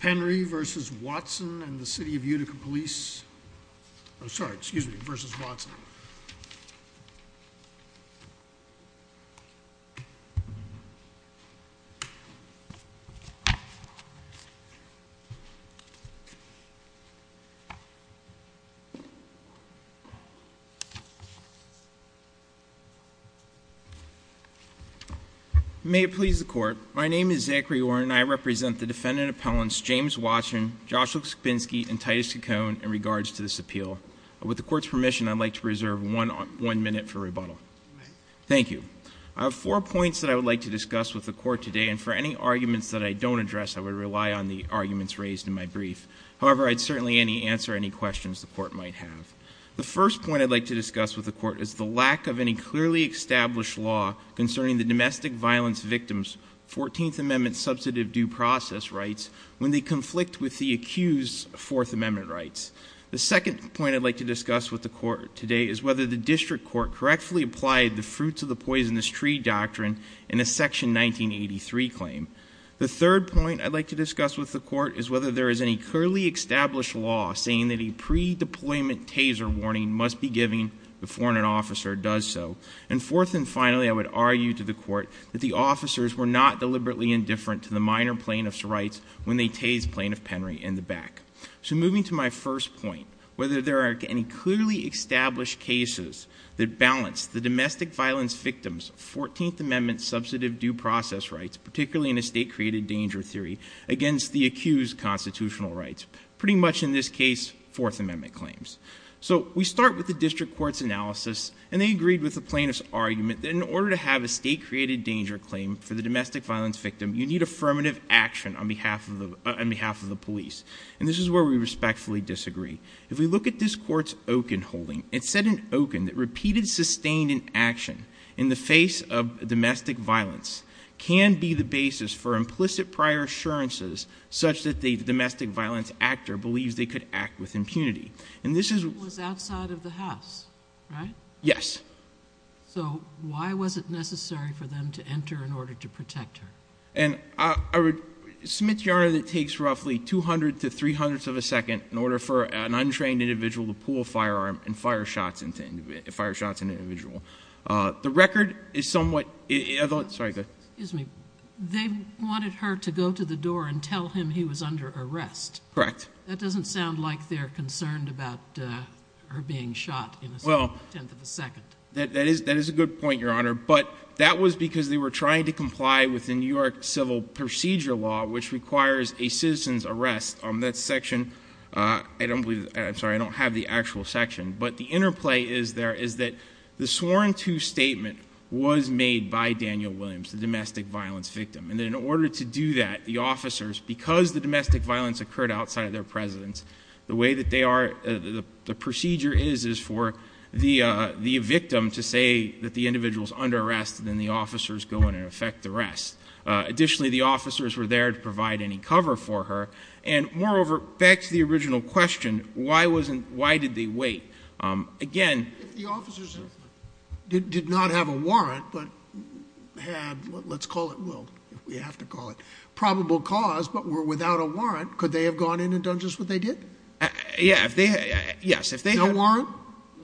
Henry v. Watson and the City of Utica Police. I'm sorry, excuse me, v. Watson. My name is Zachary Warren and I represent the defendant appellants James Watson, Joshua Skbinski, and Titus Kikone in regards to this appeal. With the court's permission, I'd like to reserve one minute for rebuttal. Thank you. I have four points that I would like to discuss with the court today, and for any arguments that I don't address, I would rely on the arguments raised in my brief. However, I'd certainly answer any questions the court might have. The first point I'd like to discuss with the court is the lack of any clearly established law concerning the domestic violence victims' 14th Amendment substantive due process rights when they conflict with the accused's 4th Amendment rights. The second point I'd like to discuss with the court today is whether the district court correctly applied the fruits of the poisonous tree doctrine in a section 1983 claim. The third point I'd like to discuss with the court is whether there is any clearly established law saying that a pre-deployment taser warning must be given before an officer does so. And fourth and finally, I would argue to the court that the officers were not deliberately indifferent to the minor plaintiff's rights when they tased plaintiff Henry in the back. So moving to my first point, whether there are any clearly established cases that balance the domestic violence victims' 14th Amendment substantive due process rights, particularly in a state-created danger theory, against the accused's constitutional rights. Pretty much in this case, 4th Amendment claims. So we start with the district court's analysis, and they agreed with the plaintiff's argument that in order to have a state-created danger claim for the domestic violence victim, you need affirmative action on behalf of the police. And this is where we respectfully disagree. If we look at this court's Okun holding, it said in Okun that repeated sustained action in the face of domestic violence can be the basis for implicit prior assurances such that the domestic violence actor believes they could act with impunity. And this is- It was outside of the house, right? Yes. So why was it necessary for them to enter in order to protect her? And I would submit, Your Honor, that it takes roughly 200 to 300ths of a second in order for an untrained individual to pull a firearm and fire shots at an individual. The record is somewhat- Excuse me. They wanted her to go to the door and tell him he was under arrest. Correct. That doesn't sound like they're concerned about her being shot in a tenth of a second. That is a good point, Your Honor, but that was because they were trying to comply with the New York Civil Procedure Law, which requires a citizen's arrest on that section. I don't believe-I'm sorry, I don't have the actual section. But the interplay is there is that the sworn to statement was made by Daniel Williams, the domestic violence victim, and in order to do that, the officers, because the domestic violence occurred outside of their presence, the way that they are-the procedure is for the victim to say that the individual is under arrest, and then the officers go in and affect the rest. Additionally, the officers were there to provide any cover for her. And moreover, back to the original question, why did they wait? Again- If the officers did not have a warrant but had, let's call it-well, we have to call it probable cause, but were without a warrant, could they have gone in and done just what they did? Yes. No warrant?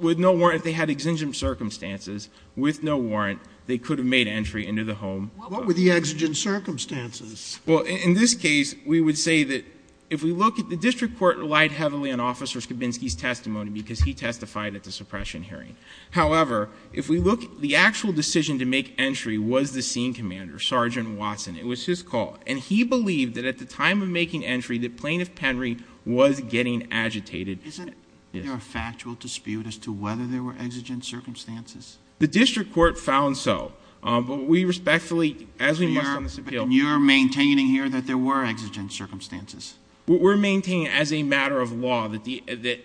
With no warrant, if they had exigent circumstances, with no warrant, they could have made entry into the home. What were the exigent circumstances? Well, in this case, we would say that if we look at-the district court relied heavily on Officer Skabinski's testimony because he testified at the suppression hearing. However, if we look-the actual decision to make entry was the scene commander, Sergeant Watson. It was his call. And he believed that at the time of making entry, that Plaintiff Penry was getting agitated. Isn't there a factual dispute as to whether there were exigent circumstances? The district court found so. But we respectfully, as we must on this appeal- But you're maintaining here that there were exigent circumstances. We're maintaining as a matter of law that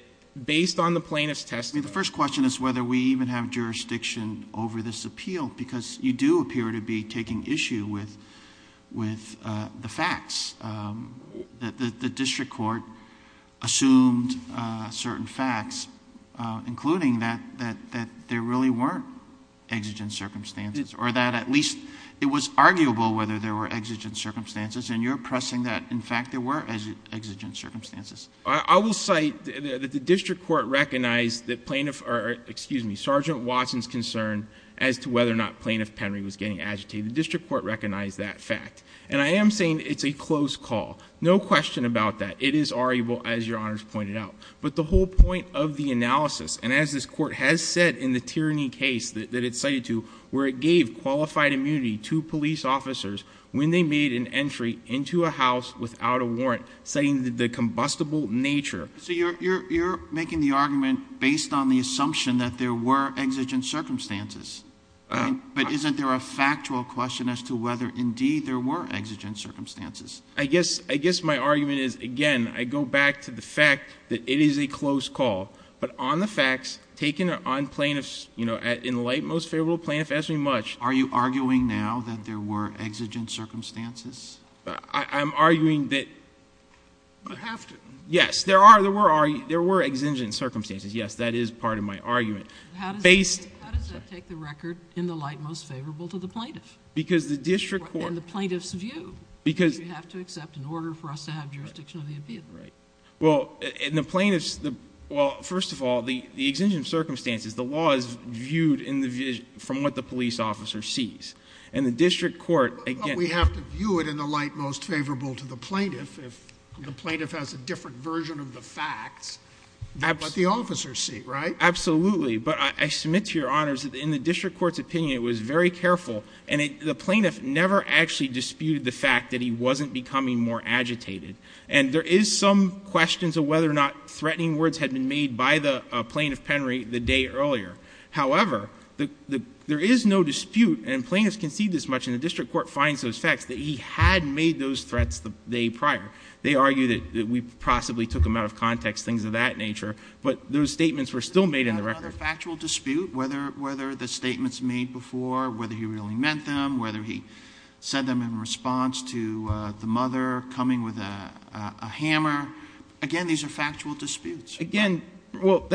based on the plaintiff's testimony- I mean, the first question is whether we even have jurisdiction over this appeal because you do appear to be taking issue with the facts. The district court assumed certain facts, including that there really weren't exigent circumstances or that at least it was arguable whether there were exigent circumstances. And you're pressing that, in fact, there were exigent circumstances. I will cite that the district court recognized that plaintiff- or, excuse me, Sergeant Watson's concern as to whether or not Plaintiff Penry was getting agitated. The district court recognized that fact. And I am saying it's a close call. No question about that. It is arguable, as Your Honors pointed out. But the whole point of the analysis, and as this court has said in the tyranny case that it's cited to, where it gave qualified immunity to police officers when they made an entry into a house without a warrant, citing the combustible nature- So you're making the argument based on the assumption that there were exigent circumstances. But isn't there a factual question as to whether, indeed, there were exigent circumstances? I guess my argument is, again, I go back to the fact that it is a close call. But on the facts, taken on plaintiffs, you know, in the light most favorable plaintiff, ask me much- Are you arguing now that there were exigent circumstances? I'm arguing that- You have to- Yes, there were exigent circumstances. Yes, that is part of my argument. How does that take the record in the light most favorable to the plaintiff? Because the district court- In the plaintiff's view. Because- You have to accept in order for us to have jurisdiction of the appeal. Well, in the plaintiff's- Well, first of all, the exigent circumstances, the law is viewed from what the police officer sees. And the district court- But we have to view it in the light most favorable to the plaintiff. The plaintiff has a different version of the facts than what the officers see, right? Absolutely. But I submit to your honors that in the district court's opinion, it was very careful. And the plaintiff never actually disputed the fact that he wasn't becoming more agitated. And there is some questions of whether or not threatening words had been made by the plaintiff Penry the day earlier. However, there is no dispute, and plaintiffs can see this much, and the district court finds those facts, that he had made those threats the day prior. They argue that we possibly took them out of context, things of that nature. But those statements were still made in the record. Is there not another factual dispute, whether the statements made before, whether he really meant them, whether he said them in response to the mother coming with a hammer? Again, these are factual disputes. Again, well,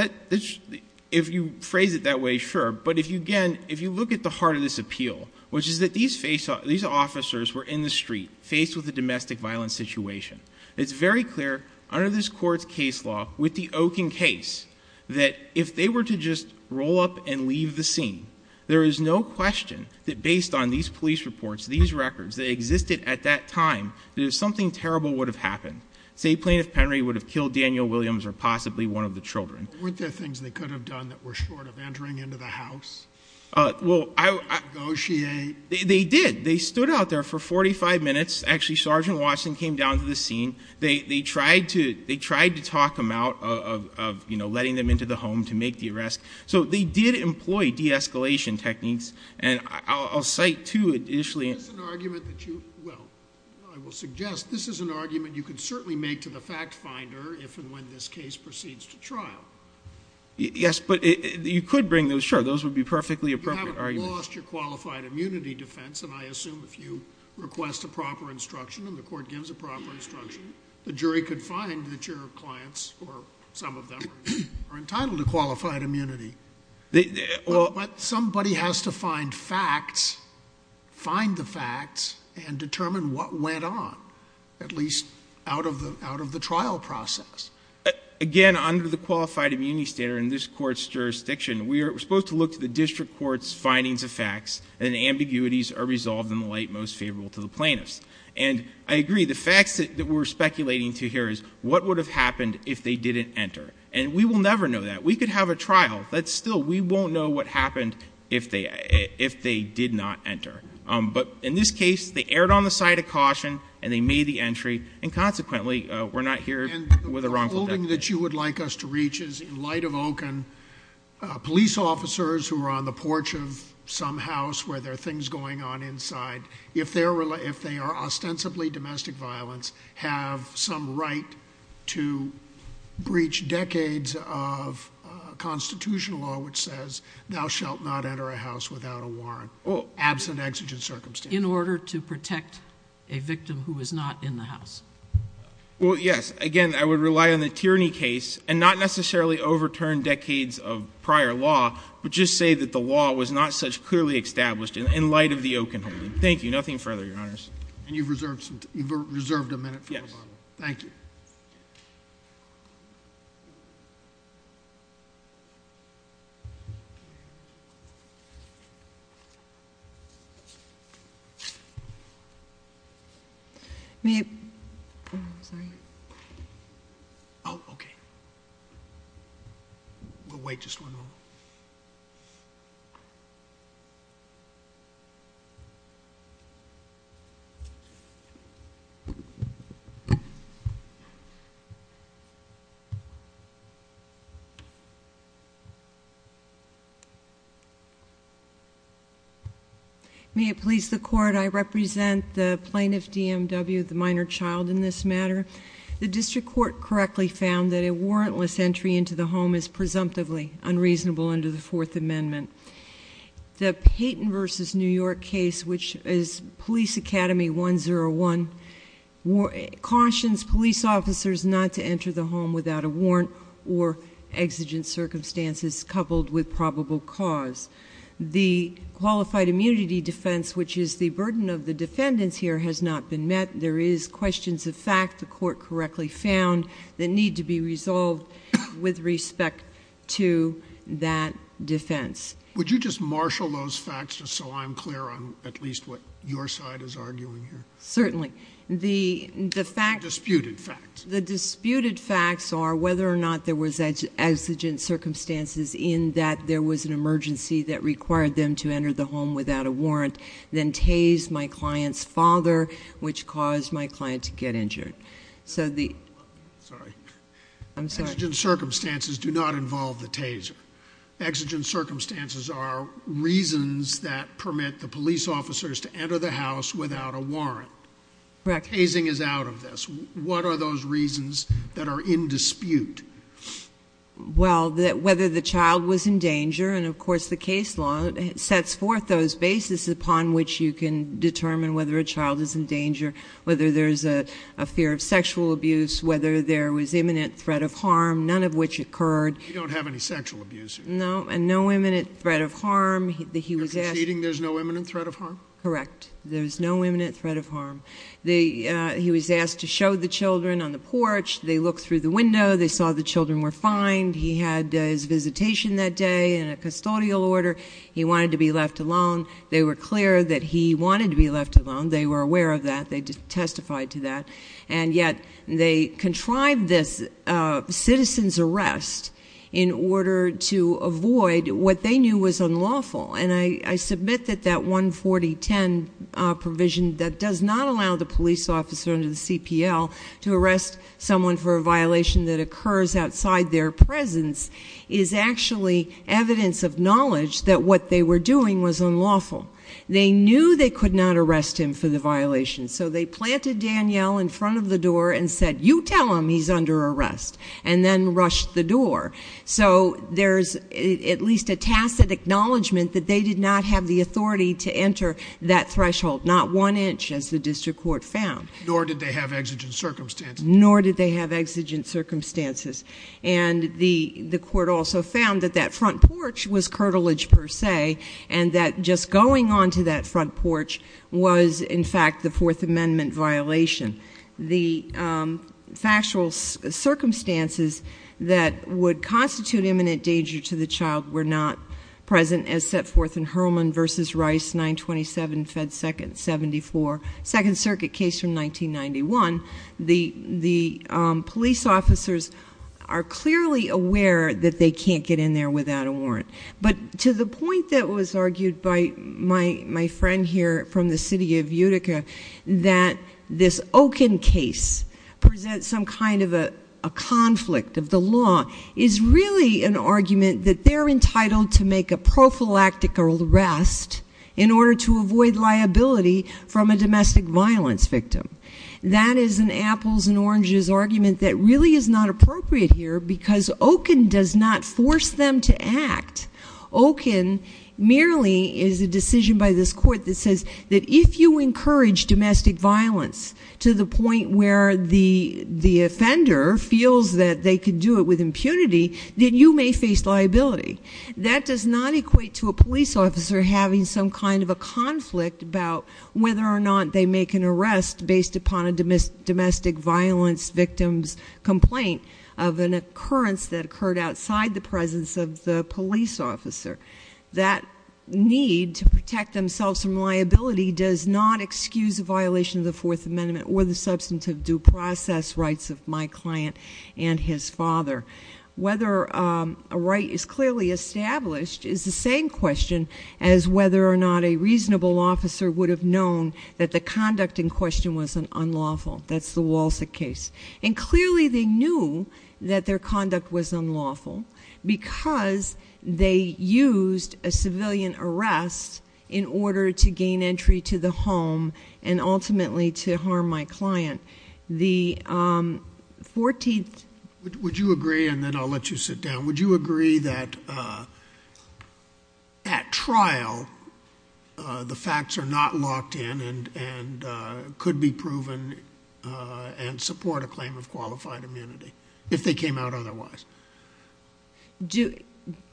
if you phrase it that way, sure. But again, if you look at the heart of this appeal, which is that these officers were in the street, faced with a domestic violence situation. It's very clear under this court's case law, with the Okin case, that if they were to just roll up and leave the scene, there is no question that based on these police reports, these records, that existed at that time, that something terrible would have happened. Say Plaintiff Penry would have killed Daniel Williams or possibly one of the children. But weren't there things they could have done that were short of entering into the house? Well, I — Negotiate. They did. They stood out there for 45 minutes. Actually, Sergeant Watson came down to the scene. They tried to talk him out of, you know, letting them into the home to make the arrest. So they did employ de-escalation techniques. And I'll cite two initially. This is an argument that you — well, I will suggest this is an argument you could certainly make to the fact finder if and when this case proceeds to trial. Yes, but you could bring those — sure, those would be perfectly appropriate arguments. You haven't lost your qualified immunity defense, and I assume if you request a proper instruction and the court gives a proper instruction, the jury could find that your clients, or some of them, are entitled to qualified immunity. But somebody has to find facts, find the facts, and determine what went on, at least out of the trial process. Again, under the qualified immunity standard in this court's jurisdiction, we're supposed to look to the district court's findings of facts, and ambiguities are resolved in the light most favorable to the plaintiffs. And I agree. The facts that we're speculating to here is what would have happened if they didn't enter. And we will never know that. We could have a trial. Still, we won't know what happened if they did not enter. But in this case, they erred on the side of caution, and they made the entry, and consequently, we're not here with a wrongful death. And the holding that you would like us to reach is, in light of Okun, police officers who are on the porch of some house where there are things going on inside, if they are ostensibly domestic violence, have some right to breach decades of constitutional law which says thou shalt not enter a house without a warrant, absent exigent circumstances. In order to protect a victim who is not in the house. Well, yes. Again, I would rely on the Tierney case, and not necessarily overturn decades of prior law, but just say that the law was not such clearly established in light of the Okun holding. Thank you. Nothing further, Your Honors. And you've reserved a minute for rebuttal. Yes. Thank you. May I? Oh, okay. We'll wait just one moment. May it please the Court, I represent the plaintiff, DMW, the minor child in this matter. The district court correctly found that a warrantless entry into the home is presumptively unreasonable under the Fourth Amendment. The Payton v. New York case, which is Police Academy 101, cautions police officers not to enter the home without a warrant or exigent circumstances coupled with probable cause. The qualified immunity defense, which is the burden of the defendants here, has not been met. There is questions of fact the court correctly found that need to be resolved with respect to that defense. Would you just marshal those facts just so I'm clear on at least what your side is arguing here? Certainly. The facts... The disputed facts. The disputed facts are whether or not there was exigent circumstances in that there was an emergency that required them to enter the home without a warrant, then tased my client's father, which caused my client to get injured. So the... Sorry. I'm sorry. Exigent circumstances do not involve the taser. Exigent circumstances are reasons that permit the police officers to enter the house without a warrant. Correct. Tasing is out of this. What are those reasons that are in dispute? Well, whether the child was in danger, and of course the case law sets forth those bases upon which you can determine whether a child is in danger, whether there's a fear of sexual abuse, whether there was imminent threat of harm, none of which occurred. You don't have any sexual abuse. No, and no imminent threat of harm. You're conceding there's no imminent threat of harm? Correct. There's no imminent threat of harm. He was asked to show the children on the porch. They looked through the window. They saw the children were fine. He had his visitation that day in a custodial order. He wanted to be left alone. They were clear that he wanted to be left alone. They were aware of that. They testified to that. And yet they contrived this citizen's arrest in order to avoid what they knew was unlawful. And I submit that that 14010 provision that does not allow the police officer under the CPL to arrest someone for a violation that occurs outside their presence is actually evidence of knowledge that what they were doing was unlawful. They knew they could not arrest him for the violation, so they planted Danielle in front of the door and said, you tell him he's under arrest, and then rushed the door. So there's at least a tacit acknowledgment that they did not have the authority to enter that threshold, not one inch, as the district court found. Nor did they have exigent circumstances. Nor did they have exigent circumstances. And the court also found that that front porch was curtilage per se, and that just going onto that front porch was, in fact, the Fourth Amendment violation. The factual circumstances that would constitute imminent danger to the child were not present as set forth in Hurlman v. Rice, 927 Fed 2nd, 74, Second Circuit case from 1991. The police officers are clearly aware that they can't get in there without a warrant. But to the point that was argued by my friend here from the city of Utica, that this Okun case presents some kind of a conflict of the law is really an argument that they're entitled to make a prophylactical arrest in order to avoid liability from a domestic violence victim. That is an apples and oranges argument that really is not appropriate here because Okun does not force them to act. Okun merely is a decision by this court that says that if you encourage domestic violence to the point where the offender feels that they can do it with impunity, then you may face liability. That does not equate to a police officer having some kind of a conflict about whether or not they make an arrest based upon a domestic violence victim's complaint of an occurrence that occurred outside the presence of the police officer. That need to protect themselves from liability does not excuse a violation of the Fourth Amendment or the substantive due process rights of my client and his father. Whether a right is clearly established is the same question as whether or not a reasonable officer would have known that the conduct in question was unlawful. That's the Walsh case. Clearly they knew that their conduct was unlawful because they used a civilian arrest in order to gain entry to the home and ultimately to harm my client. Would you agree, and then I'll let you sit down, would you agree that at trial the facts are not locked in and could be proven and support a claim of qualified immunity if they came out otherwise?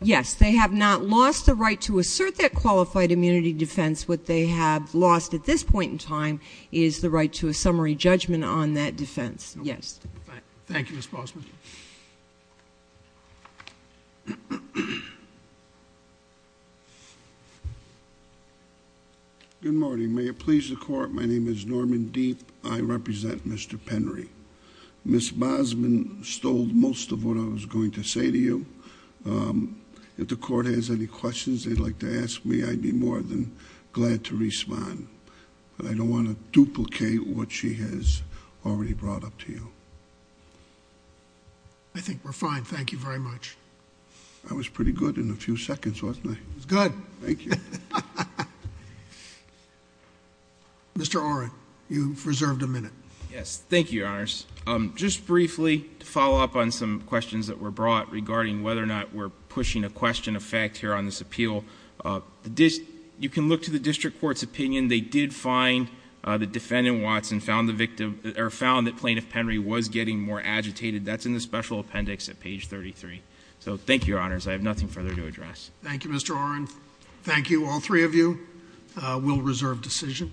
Yes. They have not lost the right to assert that qualified immunity defense. What they have lost at this point in time is the right to a summary judgment on that defense. Yes. Thank you, Ms. Bosman. Good morning. May it please the Court, my name is Norman Deet. I represent Mr. Penry. Ms. Bosman stole most of what I was going to say to you. If the Court has any questions they'd like to ask me, I'd be more than glad to respond. But I don't want to duplicate what she has already brought up to you. I think we're fine. Thank you very much. That was pretty good in a few seconds, wasn't it? It was good. Thank you. Mr. Oren, you've reserved a minute. Yes. Thank you, Your Honors. Just briefly, to follow up on some questions that were brought regarding whether or not we're pushing a question of fact here on this appeal, you can look to the District Court's opinion. They did find that Defendant Watson found that Plaintiff Penry was getting more agitated. That's in the special appendix at page 33. So thank you, Your Honors. I have nothing further to address. Thank you, Mr. Oren. Thank you, all three of you. We'll reserve decision.